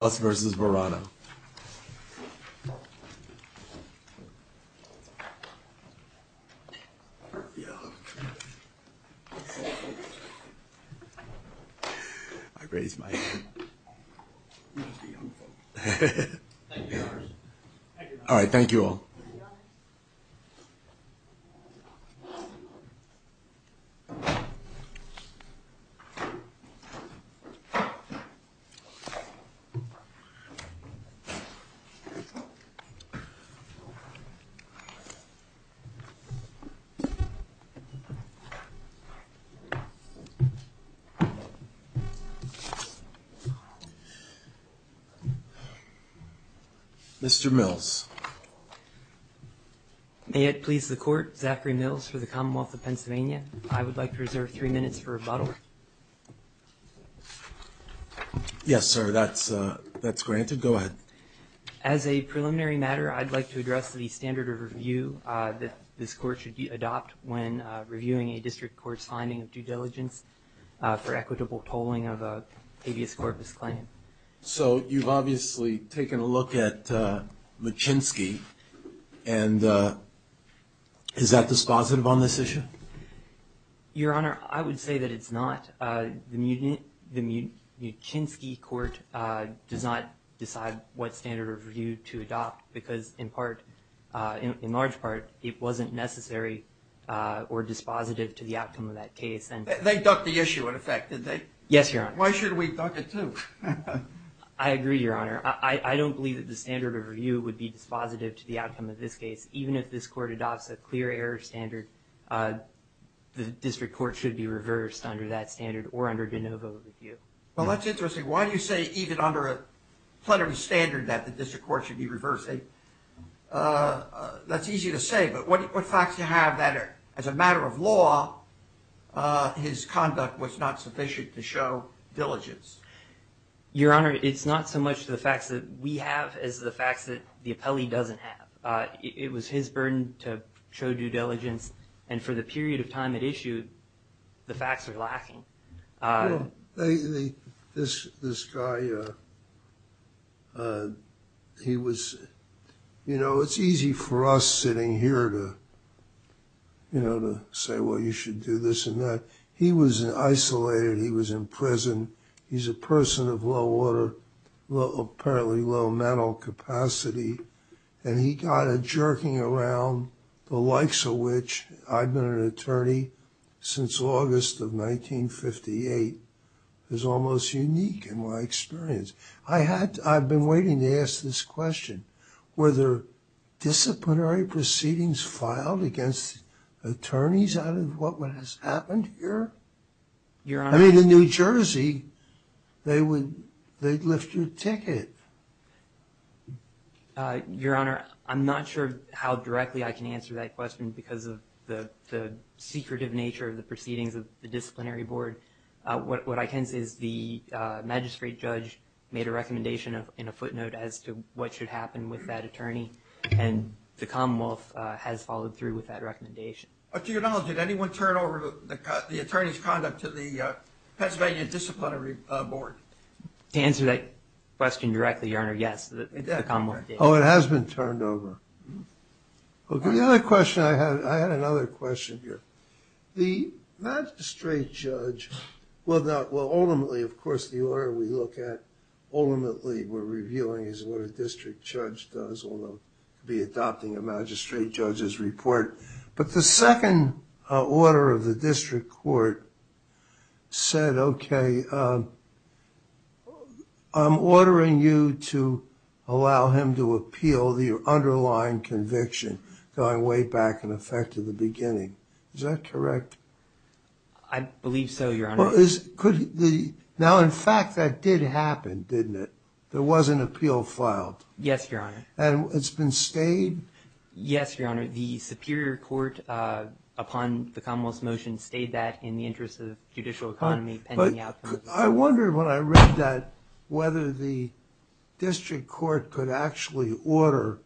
Us versus Verano. I raised my hand. Alright, thank you all. Mr. Mills. May it please the court, Zachary Mills for the Commonwealth of Pennsylvania. I would like to reserve three minutes for rebuttal. Yes, sir, that's granted. Go ahead. As a preliminary matter, I'd like to address the standard of review that this court should adopt when reviewing a district court's finding of due diligence for equitable tolling of a habeas corpus claim. So you've obviously taken a look at Machinsky, and is that dispositive on this issue? Your Honor, I would say that it's not. The Machinsky court does not decide what standard of review to adopt because in part, in large part, it wasn't necessary or dispositive to the outcome of that case. They ducked the issue in effect, did they? Yes, Your Honor. Why should we duck it too? I agree, Your Honor. I don't believe that the standard of review would be dispositive to the outcome of this case. Even if this court adopts a clear error standard, the district court should be reversed under that standard or under de novo review. Well, that's interesting. Why do you say even under a plenary standard that the district court should be reversing? That's easy to say, but what facts do you have that as a matter of law, his conduct was not sufficient to show diligence? Your Honor, it's not so much the facts that we have as the facts that the appellee doesn't have. It was his burden to show due diligence, and for the period of time it issued, the facts are lacking. This guy, he was, you know, it's easy for us sitting here to, you know, to say, well, you should do this and that. He was isolated. He was in prison. He's a person of low order, apparently low mental capacity, and he got a jerking around the likes of which I've been an attorney since August of 1958. It was almost unique in my experience. I had, I've been waiting to ask this question. Were there disciplinary proceedings filed against attorneys out of what has happened here? Your Honor. I mean, in New Jersey, they would, they'd lift your ticket. Your Honor, I'm not sure how directly I can answer that question because of the secretive nature of the proceedings of the disciplinary board. What I can say is the magistrate judge made a recommendation in a footnote as to what should happen with that attorney, and the Commonwealth has followed through with that recommendation. To your knowledge, did anyone turn over the attorney's conduct to the Pennsylvania Disciplinary Board? To answer that question directly, Your Honor, yes, the Commonwealth did. Oh, it has been turned over. The other question I had, I had another question here. The magistrate judge, well, ultimately, of course, the order we look at, ultimately, we're reviewing is what a district judge does when they'll be adopting a magistrate judge's report. But the second order of the district court said, okay, I'm ordering you to allow him to appeal the underlying conviction going way back, in effect, to the beginning. Is that correct? I believe so, Your Honor. Now, in fact, that did happen, didn't it? There was an appeal filed. Yes, Your Honor. And it's been stayed? Yes, Your Honor. The Superior Court, upon the Commonwealth's motion, stayed that in the interest of judicial economy pending the outcome. I wondered when I read that whether the district court could actually order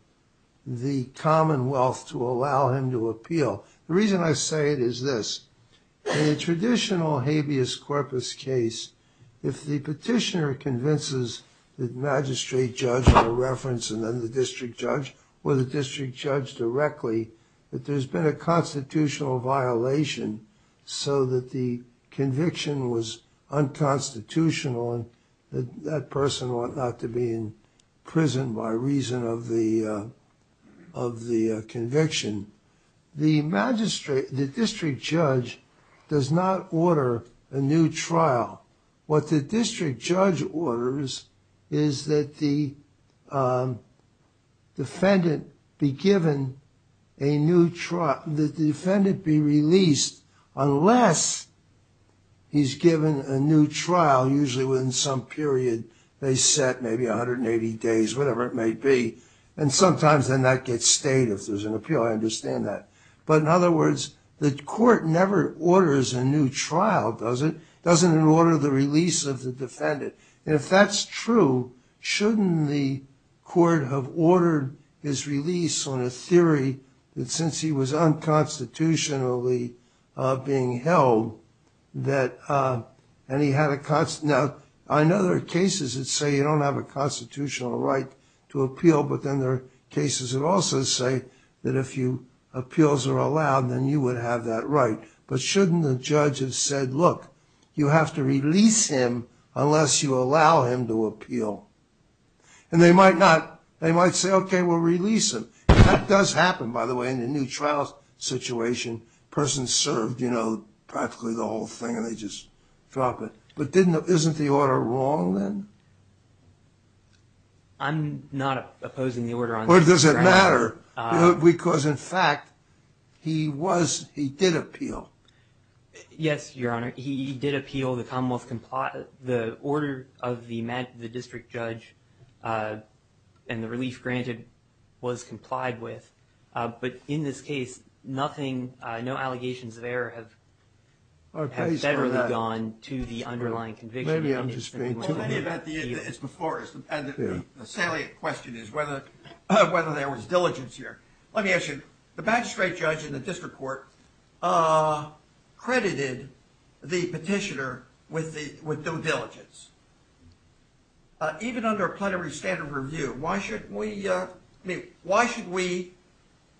the Commonwealth to allow him to appeal. The reason I say it is this. In a traditional habeas corpus case, if the petitioner convinces the magistrate judge with a reference and then the district judge or the district judge directly that there's been a constitutional violation so that the conviction was unconstitutional and that that person ought not to be in prison by reason of the conviction, the magistrate, the district judge, does not order a new trial. What the district judge orders is that the defendant be given a new trial, that the defendant be released unless he's given a new trial, usually within some period they set, maybe 180 days, whatever it may be. And sometimes then that gets stayed if there's an appeal. I understand that. But in other words, the court never orders a new trial, does it? It doesn't order the release of the defendant. And if that's true, shouldn't the court have ordered his release on a theory that since he was unconstitutionally being held that, and he had a, I know there are cases that say you don't have a constitutional right to appeal, but then there are cases that also say that if appeals are allowed, then you would have that right. But shouldn't the judge have said, look, you have to release him unless you allow him to appeal. And they might not, they might say, okay, we'll release him. That does happen, by the way, in a new trial situation, you know, practically the whole thing and they just drop it. But isn't the order wrong then? I'm not opposing the order on this ground. Or does it matter? Because in fact, he was, he did appeal. Yes, Your Honor, he did appeal the Commonwealth, the order of the district judge and the relief granted was complied with. But in this case, nothing, no allegations of error have federally gone to the underlying conviction. Maybe I'm just being too lenient. The salient question is whether there was diligence here. Let me ask you, the magistrate judge in the district court credited the petitioner with no diligence. Even under a plenary standard review, why should we, I mean, why should we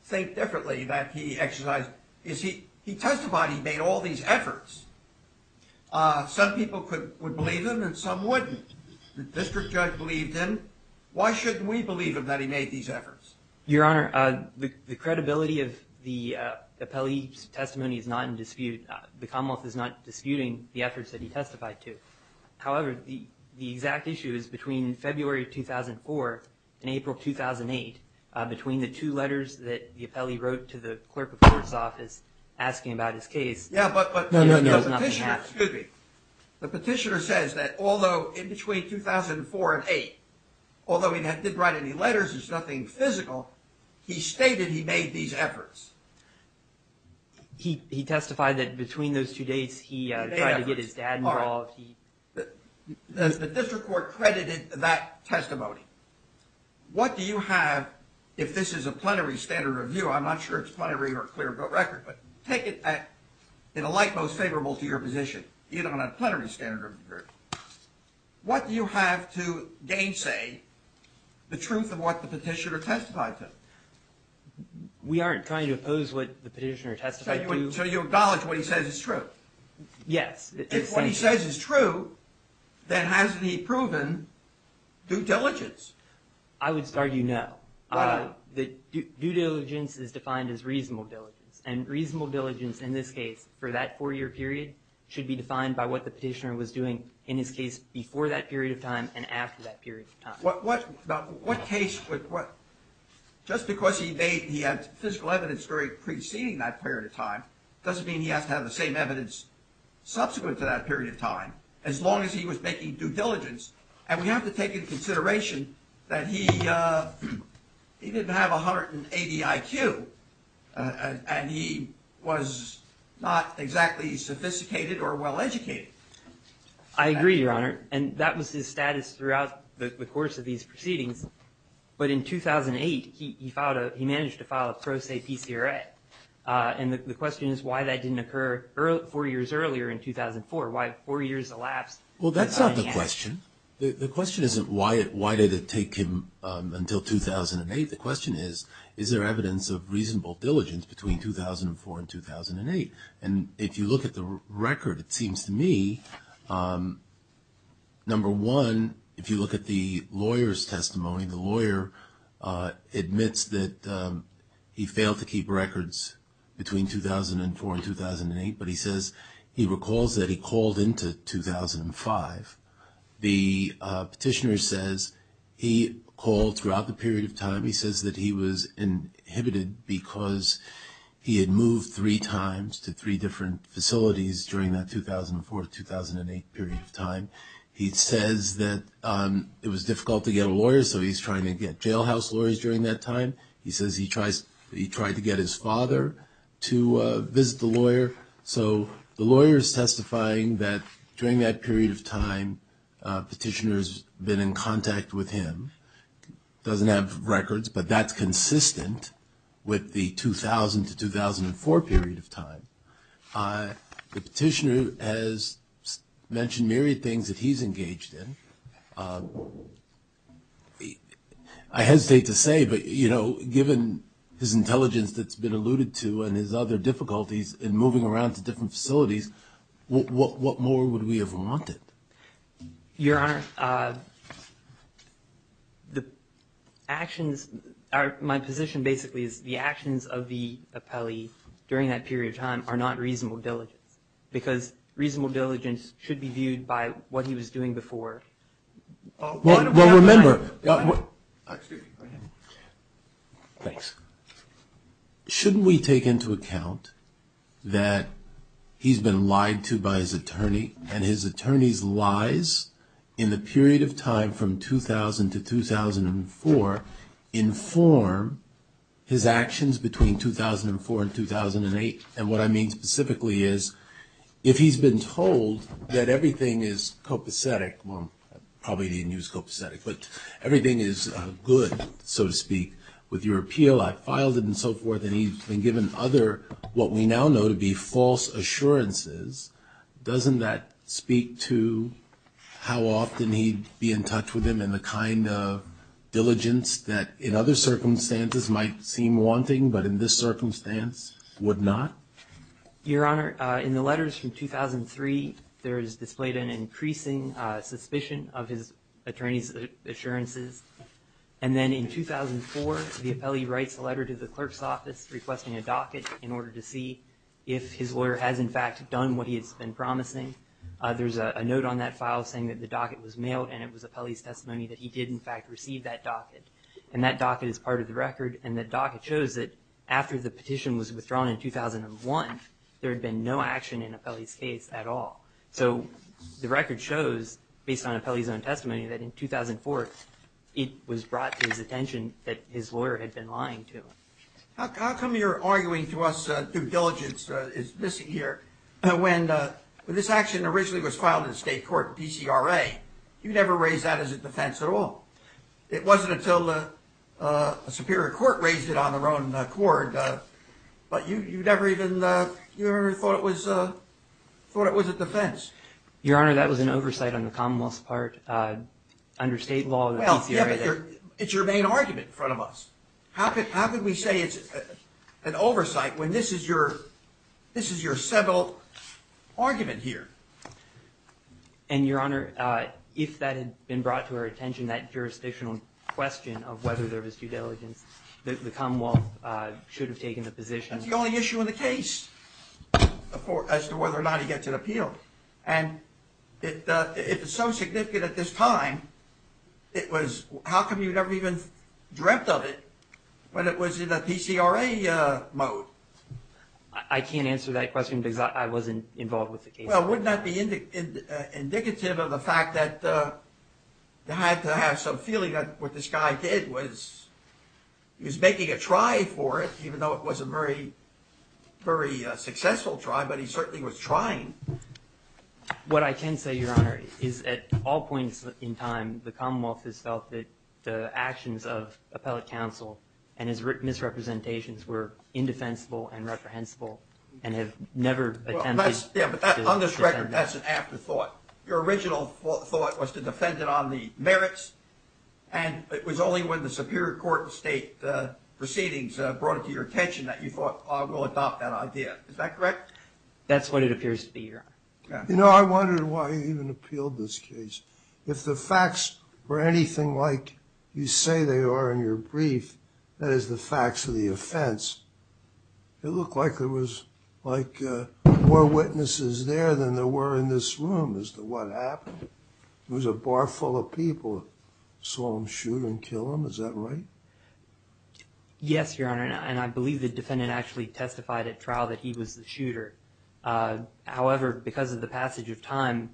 think differently that he exercised, is he, he testified he made all these efforts. Some people would believe him and some wouldn't. The district judge believed him. Why shouldn't we believe him that he made these efforts? Your Honor, the credibility of the appellee's testimony is not in dispute. The Commonwealth is not disputing the efforts that he testified to. However, the exact issue is between February 2004 and April 2008, between the two letters that the appellee wrote to the clerk of court's office asking about his case. Yeah, but the petitioner says that although in between 2004 and 2008, although he didn't write any letters, there's nothing physical, he stated he made these efforts. He testified that between those two dates, he tried to get his dad involved. The district court credited that testimony. What do you have, if this is a plenary standard review, I'm not sure it's plenary or clear book record, but take it in a light most favorable to your position, even on a plenary standard review. What do you have to gainsay the truth of what the petitioner testified to? We aren't trying to oppose what the petitioner testified to. So you acknowledge what he says is true? Yes. If what he says is true, then hasn't he proven due diligence? I would argue no. Due diligence is defined as reasonable diligence. And reasonable diligence in this case, for that four-year period, should be defined by what the petitioner was doing in his case before that period of time and after that period of time. What case, just because he had physical evidence preceding that period of time, doesn't mean he has to have the same evidence subsequent to that period of time, as long as he was making due diligence. And we have to take into consideration that he didn't have 180 IQ, and he was not exactly sophisticated or well-educated. I agree, Your Honor. And that was his status throughout the course of these proceedings. But in 2008, he managed to file a pro se PCRA. And the question is why that didn't occur four years earlier in 2004, why four years elapsed? Well, that's not the question. The question isn't why did it take him until 2008. The question is, is there evidence of reasonable diligence between 2004 and 2008? And if you look at the record, it seems to me, number one, if you look at the lawyer's testimony, the lawyer admits that he failed to keep records between 2004 and 2008, but he says he recalls that he called into 2005. The petitioner says he called throughout the period of time. He says that he was inhibited because he had moved three times to three different facilities during that 2004-2008 period of time. He says that it was difficult to get a lawyer, so he's trying to get jailhouse lawyers during that time. He says he tried to get his father to visit the lawyer. So the lawyer is testifying that during that period of time, the petitioner has been in contact with him, doesn't have records, but that's consistent with the 2000-2004 period of time. The petitioner has mentioned myriad things that he's engaged in. I hesitate to say, but, you know, given his intelligence that's been alluded to and his other difficulties in moving around to different facilities, what more would we have wanted? Your Honor, my position basically is the actions of the appellee during that period of time are not reasonable diligence because reasonable diligence should be viewed by what he was doing before. Well, remember, shouldn't we take into account that he's been lied to by his attorney and his attorney's lies in the period of time from 2000 to 2004 inform his actions between 2004 and 2008? And what I mean specifically is if he's been told that everything is copacetic, well, I probably didn't use copacetic, but everything is good, so to speak, with your appeal, I filed it and so forth, and he's been given other what we now know to be false assurances, doesn't that speak to how often he'd be in touch with him and the kind of diligence that in other circumstances might seem wanting but in this circumstance would not? Your Honor, in the letters from 2003, there is displayed an increasing suspicion of his attorney's assurances. And then in 2004, the appellee writes a letter to the clerk's office requesting a docket in order to see if his lawyer has, in fact, done what he has been promising. There's a note on that file saying that the docket was mailed, and it was appellee's testimony that he did, in fact, receive that docket. And that docket is part of the record, and the docket shows that after the petition was withdrawn in 2001, there had been no action in appellee's case at all. So the record shows, based on appellee's own testimony, that in 2004 it was brought to his attention that his lawyer had been lying to him. How come you're arguing to us that due diligence is missing here? When this action originally was filed in state court, DCRA, you never raised that as a defense at all. It wasn't until a superior court raised it on their own court, but you never even thought it was a defense. Your Honor, that was an oversight on the Commonwealth's part under state law. It's your main argument in front of us. How could we say it's an oversight when this is your civil argument here? And, Your Honor, if that had been brought to our attention, that jurisdictional question of whether there was due diligence, the Commonwealth should have taken the position. That's the only issue in the case as to whether or not he gets an appeal. And it's so significant at this time. How come you never even dreamt of it when it was in a PCRA mode? I can't answer that question because I wasn't involved with the case. Well, wouldn't that be indicative of the fact that you had to have some feeling that what this guy did was He was making a try for it, even though it was a very successful try, but he certainly was trying. What I can say, Your Honor, is at all points in time, the Commonwealth has felt that the actions of appellate counsel and his misrepresentations were indefensible and reprehensible and have never attempted to defend them. On this record, that's an afterthought. Your original thought was to defend it on the merits, and it was only when the Superior Court state proceedings brought it to your attention that you thought we'll adopt that idea. Is that correct? That's what it appears to be, Your Honor. You know, I wondered why you even appealed this case. If the facts were anything like you say they are in your brief, that is the facts of the offense, it looked like there was more witnesses there than there were in this room as to what happened. It was a bar full of people that saw him shoot and kill him. Is that right? Yes, Your Honor, and I believe the defendant actually testified at trial that he was the shooter. However, because of the passage of time,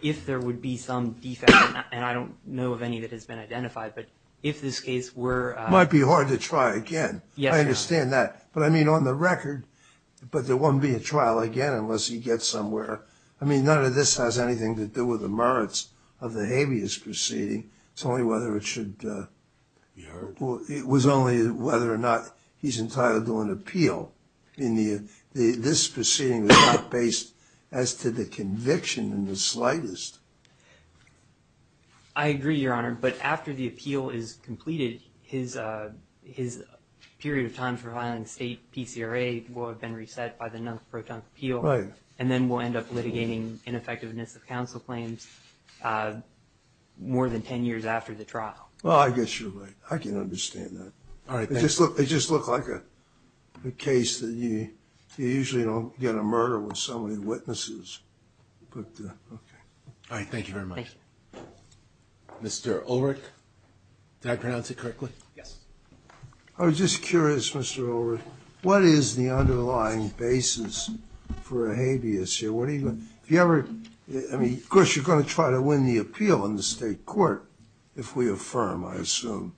if there would be some defect, and I don't know of any that has been identified, but if this case were... It might be hard to try again. I understand that. But I mean, on the record, but there won't be a trial again unless he gets somewhere. I mean, none of this has anything to do with the merits of the habeas proceeding. It's only whether it should... You heard? It was only whether or not he's entitled to an appeal. I mean, this proceeding was not based as to the conviction in the slightest. I agree, Your Honor, but after the appeal is completed, his period of time for filing a state PCRA will have been reset by the non-proton appeal. Right. And then we'll end up litigating ineffectiveness of counsel claims more than 10 years after the trial. Well, I guess you're right. I can understand that. All right, thank you. It just looked like a case that you usually don't get a murder with so many witnesses. All right, thank you very much. Thank you. Mr. Ulrich, did I pronounce it correctly? Yes. I was just curious, Mr. Ulrich, what is the underlying basis for a habeas here? Have you ever... I mean, of course you're going to try to win the appeal in the state court if we affirm, I assume.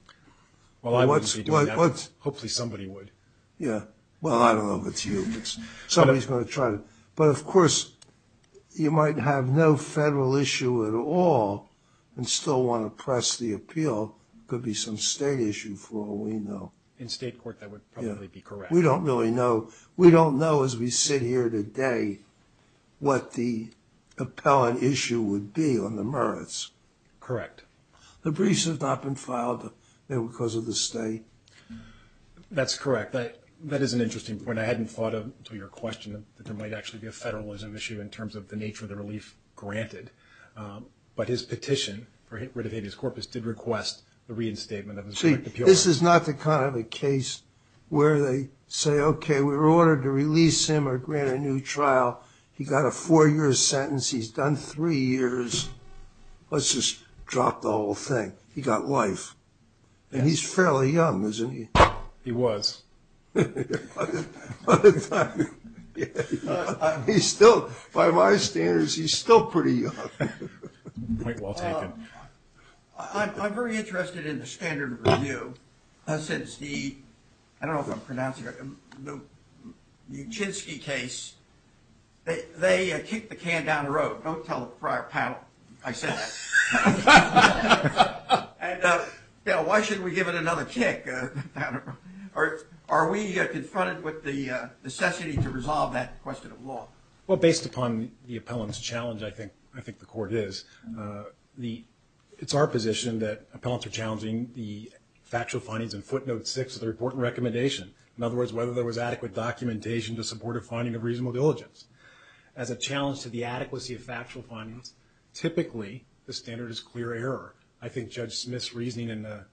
Well, I wouldn't be doing that. Hopefully somebody would. Yeah. Well, I don't know if it's you, but somebody's going to try to. But, of course, you might have no federal issue at all and still want to press the appeal. It could be some state issue for all we know. In state court, that would probably be correct. We don't really know. We don't know as we sit here today what the appellant issue would be on the merits. Correct. The briefs have not been filed because of the state. That's correct. That is an interesting point. I hadn't thought of, to your question, that there might actually be a federalism issue in terms of the nature of the relief granted. But his petition for rid of habeas corpus did request the reinstatement of his right to appeal. See, this is not the kind of a case where they say, okay, we were ordered to release him or grant a new trial. He got a four-year sentence. He's done three years. Let's just drop the whole thing. He got life. And he's fairly young, isn't he? He was. He's still, by my standards, he's still pretty young. I'm very interested in the standard review since the, I don't know if I'm pronouncing it right, the Uchinski case, they kicked the can down the road. Don't tell the prior panel I said that. And why shouldn't we give it another kick? Are we confronted with the necessity to resolve that question of law? Well, based upon the appellant's challenge, I think the court is. It's our position that appellants are challenging the factual findings in footnote six of the report and recommendation. In other words, whether there was adequate documentation to support a finding of reasonable diligence. As a challenge to the adequacy of factual findings, typically the standard is clear error. I think Judge Smith's reasoning in the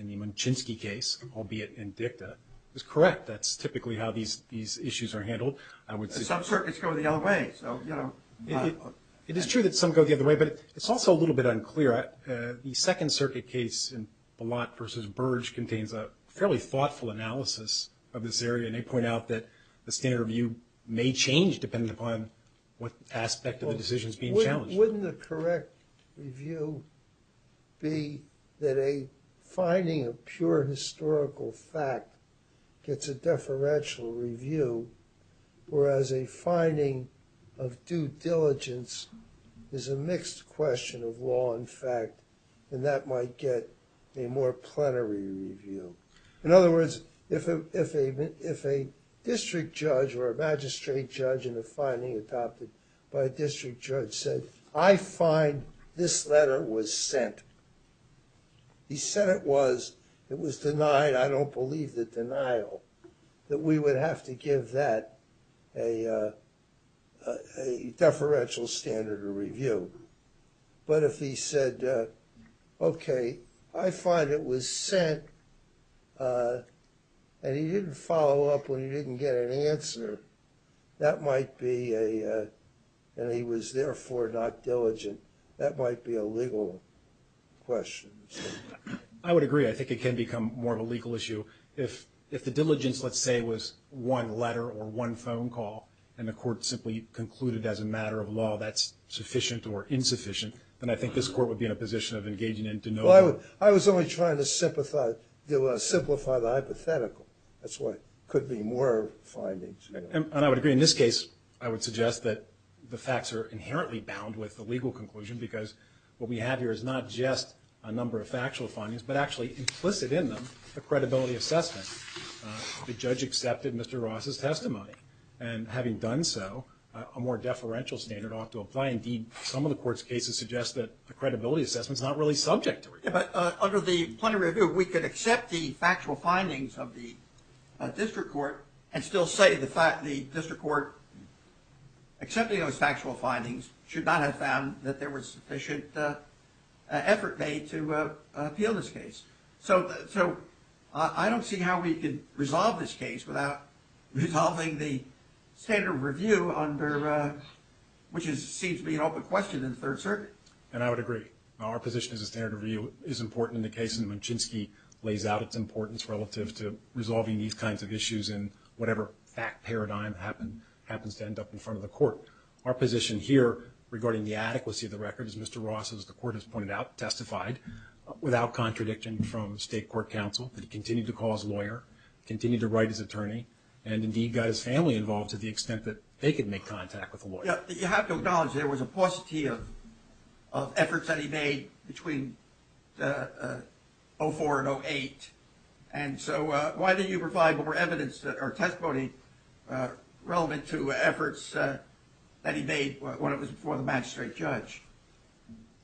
Munchinski case, albeit in dicta, is correct. That's typically how these issues are handled. Some circuits go the other way, so, you know. It is true that some go the other way, but it's also a little bit unclear. The Second Circuit case, the lot versus Burge, contains a fairly thoughtful analysis of this area. And they point out that the standard review may change depending upon what aspect of the decision is being challenged. Wouldn't the correct review be that a finding of pure historical fact gets a deferential review, whereas a finding of due diligence is a mixed question of law and fact, and that might get a more plenary review? In other words, if a district judge or a magistrate judge in a finding adopted by a district judge said, I find this letter was sent. He said it was. It was denied. I don't believe the denial that we would have to give that a deferential standard review. But if he said, okay, I find it was sent, and he didn't follow up when he didn't get an answer, that might be a, and he was therefore not diligent, that might be a legal question. I would agree. I think it can become more of a legal issue. If the diligence, let's say, was one letter or one phone call, and the court simply concluded as a matter of law that's sufficient or insufficient, then I think this court would be in a position of engaging in denial. Well, I was only trying to simplify the hypothetical. That's why it could be more findings. And I would agree. In this case, I would suggest that the facts are inherently bound with the legal conclusion because what we have here is not just a number of factual findings, but actually implicit in them a credibility assessment. The judge accepted Mr. Ross's testimony. And having done so, a more deferential standard ought to apply. Indeed, some of the court's cases suggest that a credibility assessment is not really subject to review. But under the point of review, we could accept the factual findings of the district court and still say the district court, accepting those factual findings, should not have found that there was sufficient effort made to appeal this case. So I don't see how we could resolve this case without resolving the standard of review, which seems to be an open question in the Third Circuit. And I would agree. Our position is the standard of review is important in the case, and Mimchinsky lays out its importance relative to resolving these kinds of issues in whatever fact paradigm happens to end up in front of the court. Our position here regarding the adequacy of the record is Mr. Ross, as the court has pointed out, has testified without contradiction from state court counsel that he continued to call his lawyer, continued to write his attorney, and indeed got his family involved to the extent that they could make contact with the lawyer. You have to acknowledge there was a paucity of efforts that he made between 2004 and 2008. And so why didn't you provide more evidence or testimony relevant to efforts that he made when it was before the magistrate judge?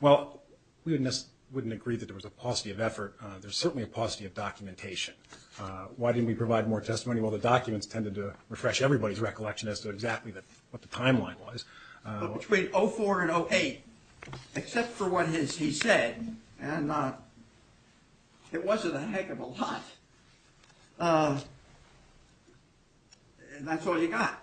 Well, we wouldn't agree that there was a paucity of effort. There's certainly a paucity of documentation. Why didn't we provide more testimony? Well, the documents tended to refresh everybody's recollection as to exactly what the timeline was. But between 2004 and 2008, except for what he said, and it wasn't a heck of a lot, and that's all you got.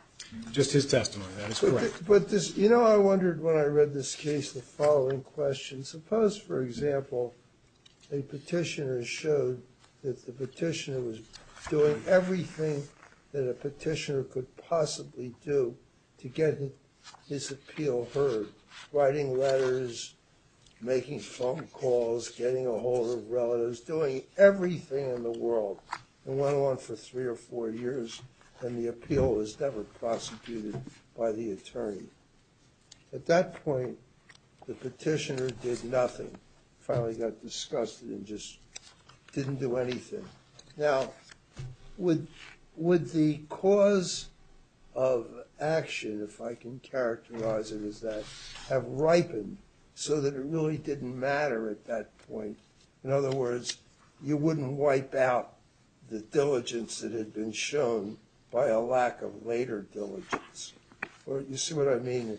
Just his testimony. That is correct. You know, I wondered when I read this case the following question. Suppose, for example, a petitioner showed that the petitioner was doing everything that a petitioner could possibly do to get his appeal heard, writing letters, making phone calls, getting a hold of relatives, doing everything in the world, and went on for three or four years, and the appeal was never prosecuted by the attorney. At that point, the petitioner did nothing. Finally got disgusted and just didn't do anything. Now, would the cause of action, if I can characterize it as that, have ripened so that it really didn't matter at that point? In other words, you wouldn't wipe out the diligence that had been shown by a lack of later diligence. You see what I mean?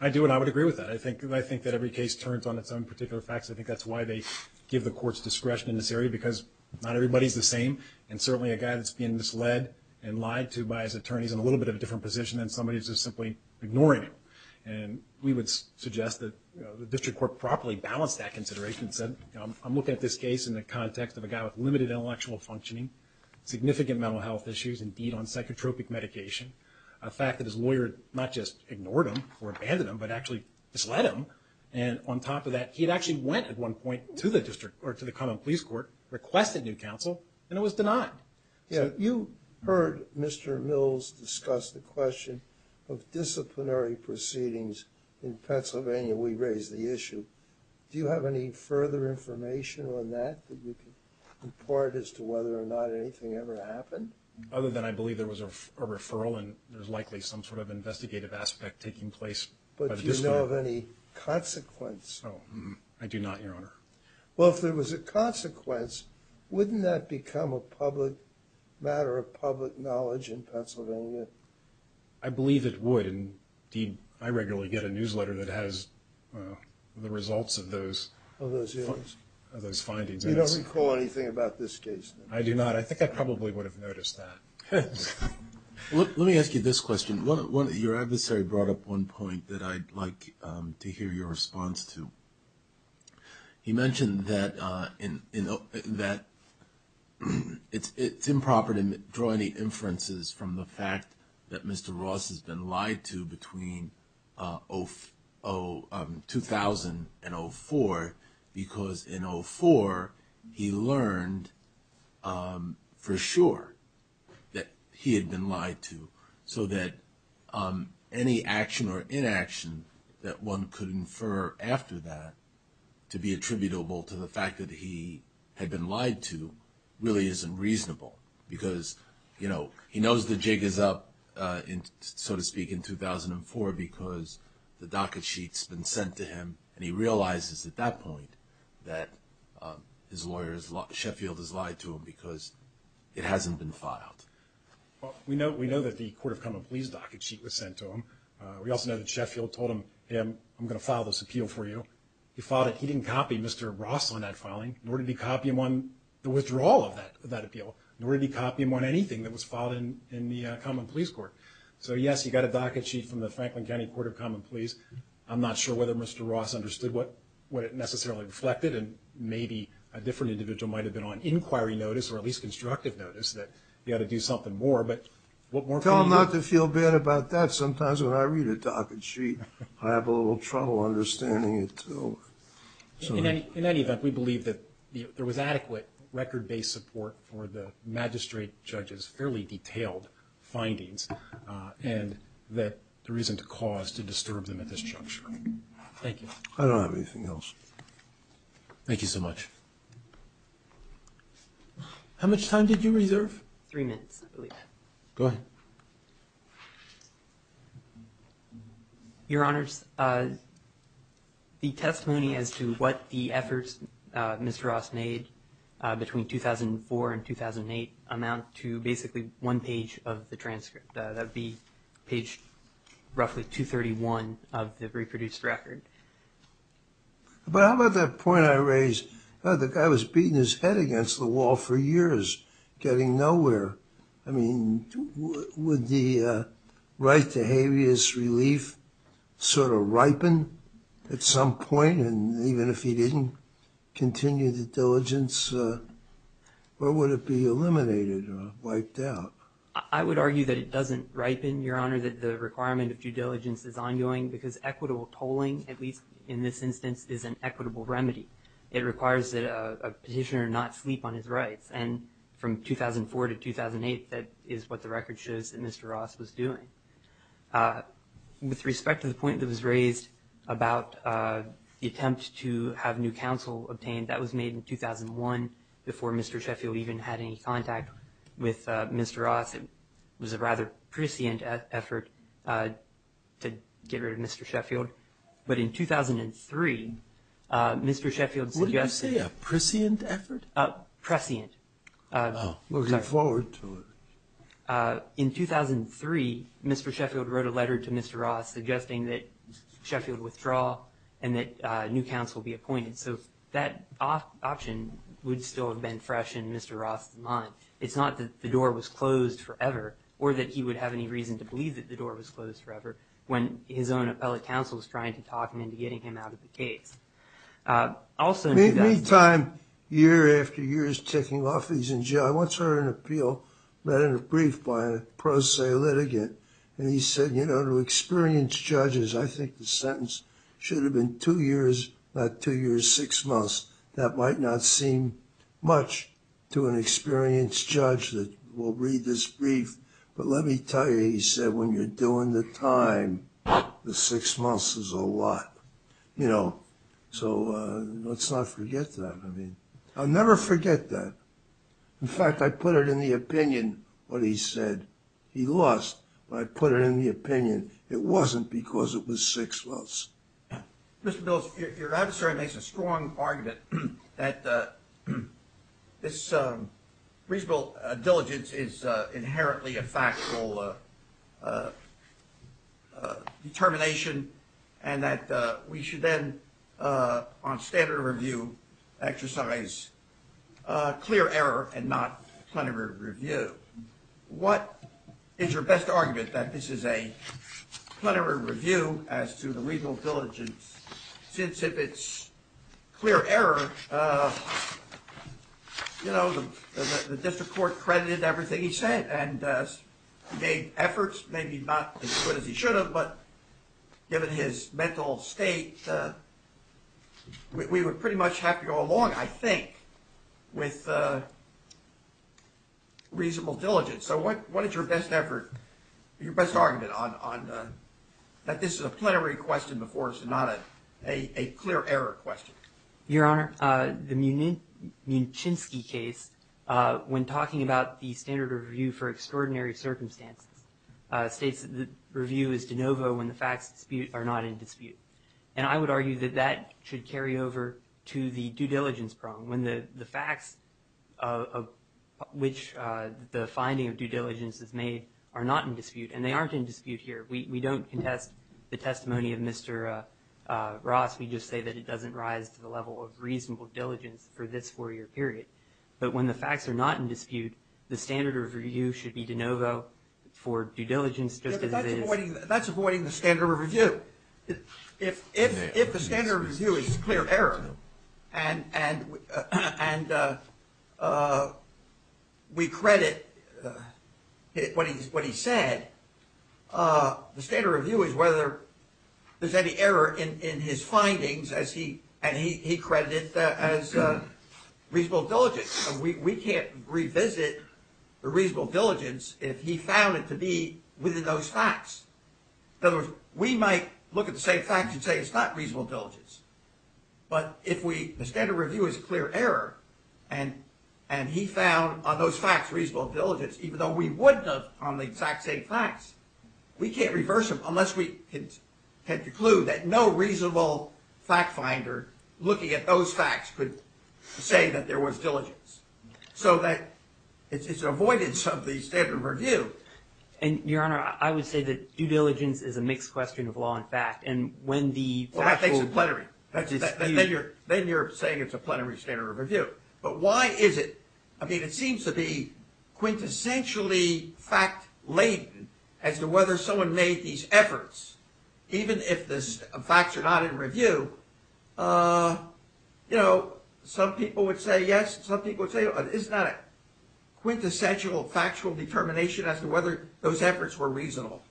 I do, and I would agree with that. I think that every case turns on its own particular facts. I think that's why they give the courts discretion in this area, because not everybody's the same, and certainly a guy that's being misled and lied to by his attorneys in a little bit of a different position than somebody who's just simply ignoring him. We would suggest that the district court properly balance that consideration and said, I'm looking at this case in the context of a guy with limited intellectual functioning, significant mental health issues, indeed on psychotropic medication, a fact that his lawyer not just ignored him or abandoned him, but actually misled him. On top of that, he had actually went at one point to the common police court, requested new counsel, and it was denied. You heard Mr. Mills discuss the question of disciplinary proceedings in Pennsylvania. We raised the issue. Do you have any further information on that that you can impart as to whether or not anything ever happened? Other than I believe there was a referral and there's likely some sort of investigative aspect taking place. But do you know of any consequence? I do not, Your Honor. Well, if there was a consequence, wouldn't that become a matter of public knowledge in Pennsylvania? I believe it would. Indeed, I regularly get a newsletter that has the results of those findings. You don't recall anything about this case? I do not. I think I probably would have noticed that. Let me ask you this question. Your adversary brought up one point that I'd like to hear your response to. He mentioned that it's improper to draw any inferences from the fact that Mr. Ross has been lied to between 2000 and 2004 because in 2004 he learned for sure that he had been lied to, so that any action or inaction that one could infer after that to be attributable to the fact that he had been lied to really isn't reasonable. Because, you know, he knows the jig is up, so to speak, in 2004 because the docket sheet's been sent to him and he realizes at that point that his lawyer, Sheffield, has lied to him because it hasn't been filed. Well, we know that the Court of Common Pleas docket sheet was sent to him. We also know that Sheffield told him, I'm going to file this appeal for you. He filed it. He didn't copy Mr. Ross on that filing, nor did he copy him on the withdrawal of that appeal, nor did he copy him on anything that was filed in the Common Pleas Court. So, yes, you got a docket sheet from the Franklin County Court of Common Pleas. I'm not sure whether Mr. Ross understood what it necessarily reflected, and maybe a different individual might have been on inquiry notice or at least constructive notice that you ought to do something more. But what more can you do? Tell him not to feel bad about that. Sometimes when I read a docket sheet, I have a little trouble understanding it, too. In any event, we believe that there was adequate record-based support for the magistrate judge's fairly detailed findings and that there isn't a cause to disturb them at this juncture. Thank you. I don't have anything else. Thank you so much. How much time did you reserve? Three minutes, I believe. Go ahead. Your Honors, the testimony as to what the efforts Mr. Ross made between 2004 and 2008 amount to basically one page of the transcript. That would be page roughly 231 of the reproduced record. But how about that point I raised? The guy was beating his head against the wall for years, getting nowhere. I mean, would the right to habeas relief sort of ripen at some point? And even if he didn't continue the diligence, what would it be eliminated or wiped out? I would argue that it doesn't ripen, Your Honor, that the requirement of due diligence is ongoing because equitable tolling, at least in this instance, is an equitable remedy. It requires that a petitioner not sleep on his rights. And from 2004 to 2008, that is what the record shows that Mr. Ross was doing. With respect to the point that was raised about the attempt to have new counsel obtained, that was made in 2001 before Mr. Sheffield even had any contact with Mr. Ross. It was a rather prescient effort to get rid of Mr. Sheffield. But in 2003, Mr. Sheffield suggested- What did you say, a prescient effort? Prescient. Oh, looking forward to it. In 2003, Mr. Sheffield wrote a letter to Mr. Ross suggesting that Sheffield withdraw and that new counsel be appointed. So that option would still have been fresh in Mr. Ross' mind. It's not that the door was closed forever or that he would have any reason to believe that the door was closed forever when his own appellate counsel was trying to talk him into getting him out of the case. I'll send you that. Meantime, year after year is ticking off. He's in jail. I once heard an appeal read in a brief by a pro se litigant. And he said, you know, to experienced judges, I think the sentence should have been two years, not two years, six months. That might not seem much to an experienced judge that will read this brief. But let me tell you, he said, when you're doing the time, the six months is a lot. You know, so let's not forget that. I mean, I'll never forget that. In fact, I put it in the opinion when he said he lost. When I put it in the opinion, it wasn't because it was six months. Mr. Bills, your adversary makes a strong argument that this reasonable diligence is inherently a factual determination and that we should then, on standard review, exercise clear error and not plenary review. What is your best argument that this is a plenary review as to the reasonable diligence, since if it's clear error, you know, the district court credited everything he said and gave efforts, maybe not as good as he should have, but given his mental state, we would pretty much have to go along, I think, with reasonable diligence. So what is your best effort, your best argument on that this is a plenary question before it's not a clear error question? Your Honor, the Muczynski case, when talking about the standard review for extraordinary circumstances, states that the review is de novo when the facts are not in dispute. And I would argue that that should carry over to the due diligence problem, when the facts of which the finding of due diligence is made are not in dispute, and they aren't in dispute here. We don't contest the testimony of Mr. Ross. We just say that it doesn't rise to the level of reasonable diligence for this four-year period. But when the facts are not in dispute, the standard review should be de novo for due diligence just as it is. That's avoiding the standard review. If the standard review is clear error, and we credit what he said, the standard review is whether there's any error in his findings, and he credited that as reasonable diligence. We can't revisit the reasonable diligence if he found it to be within those facts. In other words, we might look at the same facts and say it's not reasonable diligence. But if the standard review is a clear error, and he found on those facts reasonable diligence, even though we wouldn't have on the exact same facts, we can't reverse them unless we had the clue that no reasonable fact finder looking at those facts could say that there was diligence. So it's an avoidance of the standard review. And, Your Honor, I would say that due diligence is a mixed question of law and fact. And when the facts are in dispute. Well, that makes it plenary. Then you're saying it's a plenary standard review. But why is it? I mean, it seems to be quintessentially fact-laden as to whether someone made these efforts. Even if the facts are not in review, you know, some people would say yes, some people would say it's not a quintessential factual determination as to whether those efforts were reasonable.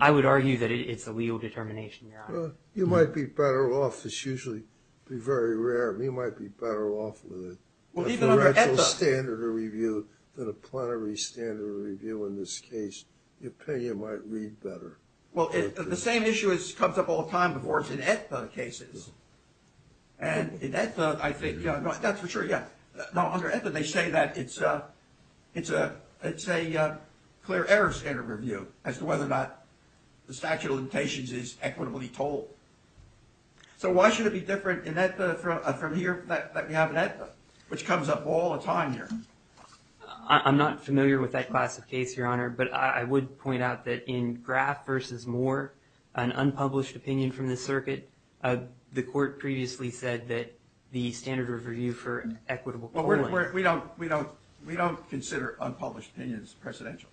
I would argue that it's a legal determination, Your Honor. You might be better off. It's usually very rare. You might be better off with it. Well, even under ETHA. A directional standard review than a plenary standard review in this case. The opinion might read better. Well, the same issue comes up all the time before it's in ETHA cases. And in ETHA, I think, that's for sure, yeah. Now, under ETHA, they say that it's a clear error standard review as to whether or not the statute of limitations is equitably told. So why should it be different in ETHA from here that we have in ETHA, which comes up all the time here? I'm not familiar with that class of case, Your Honor. But I would point out that in Graff v. Moore, an unpublished opinion from the circuit, the court previously said that the standard review for equitable polling. We don't consider unpublished opinions presidential.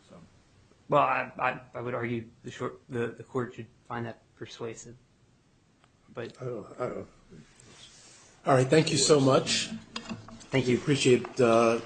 Well, I would argue the court should find that persuasive. All right, thank you so much. Thank you. Appreciate all.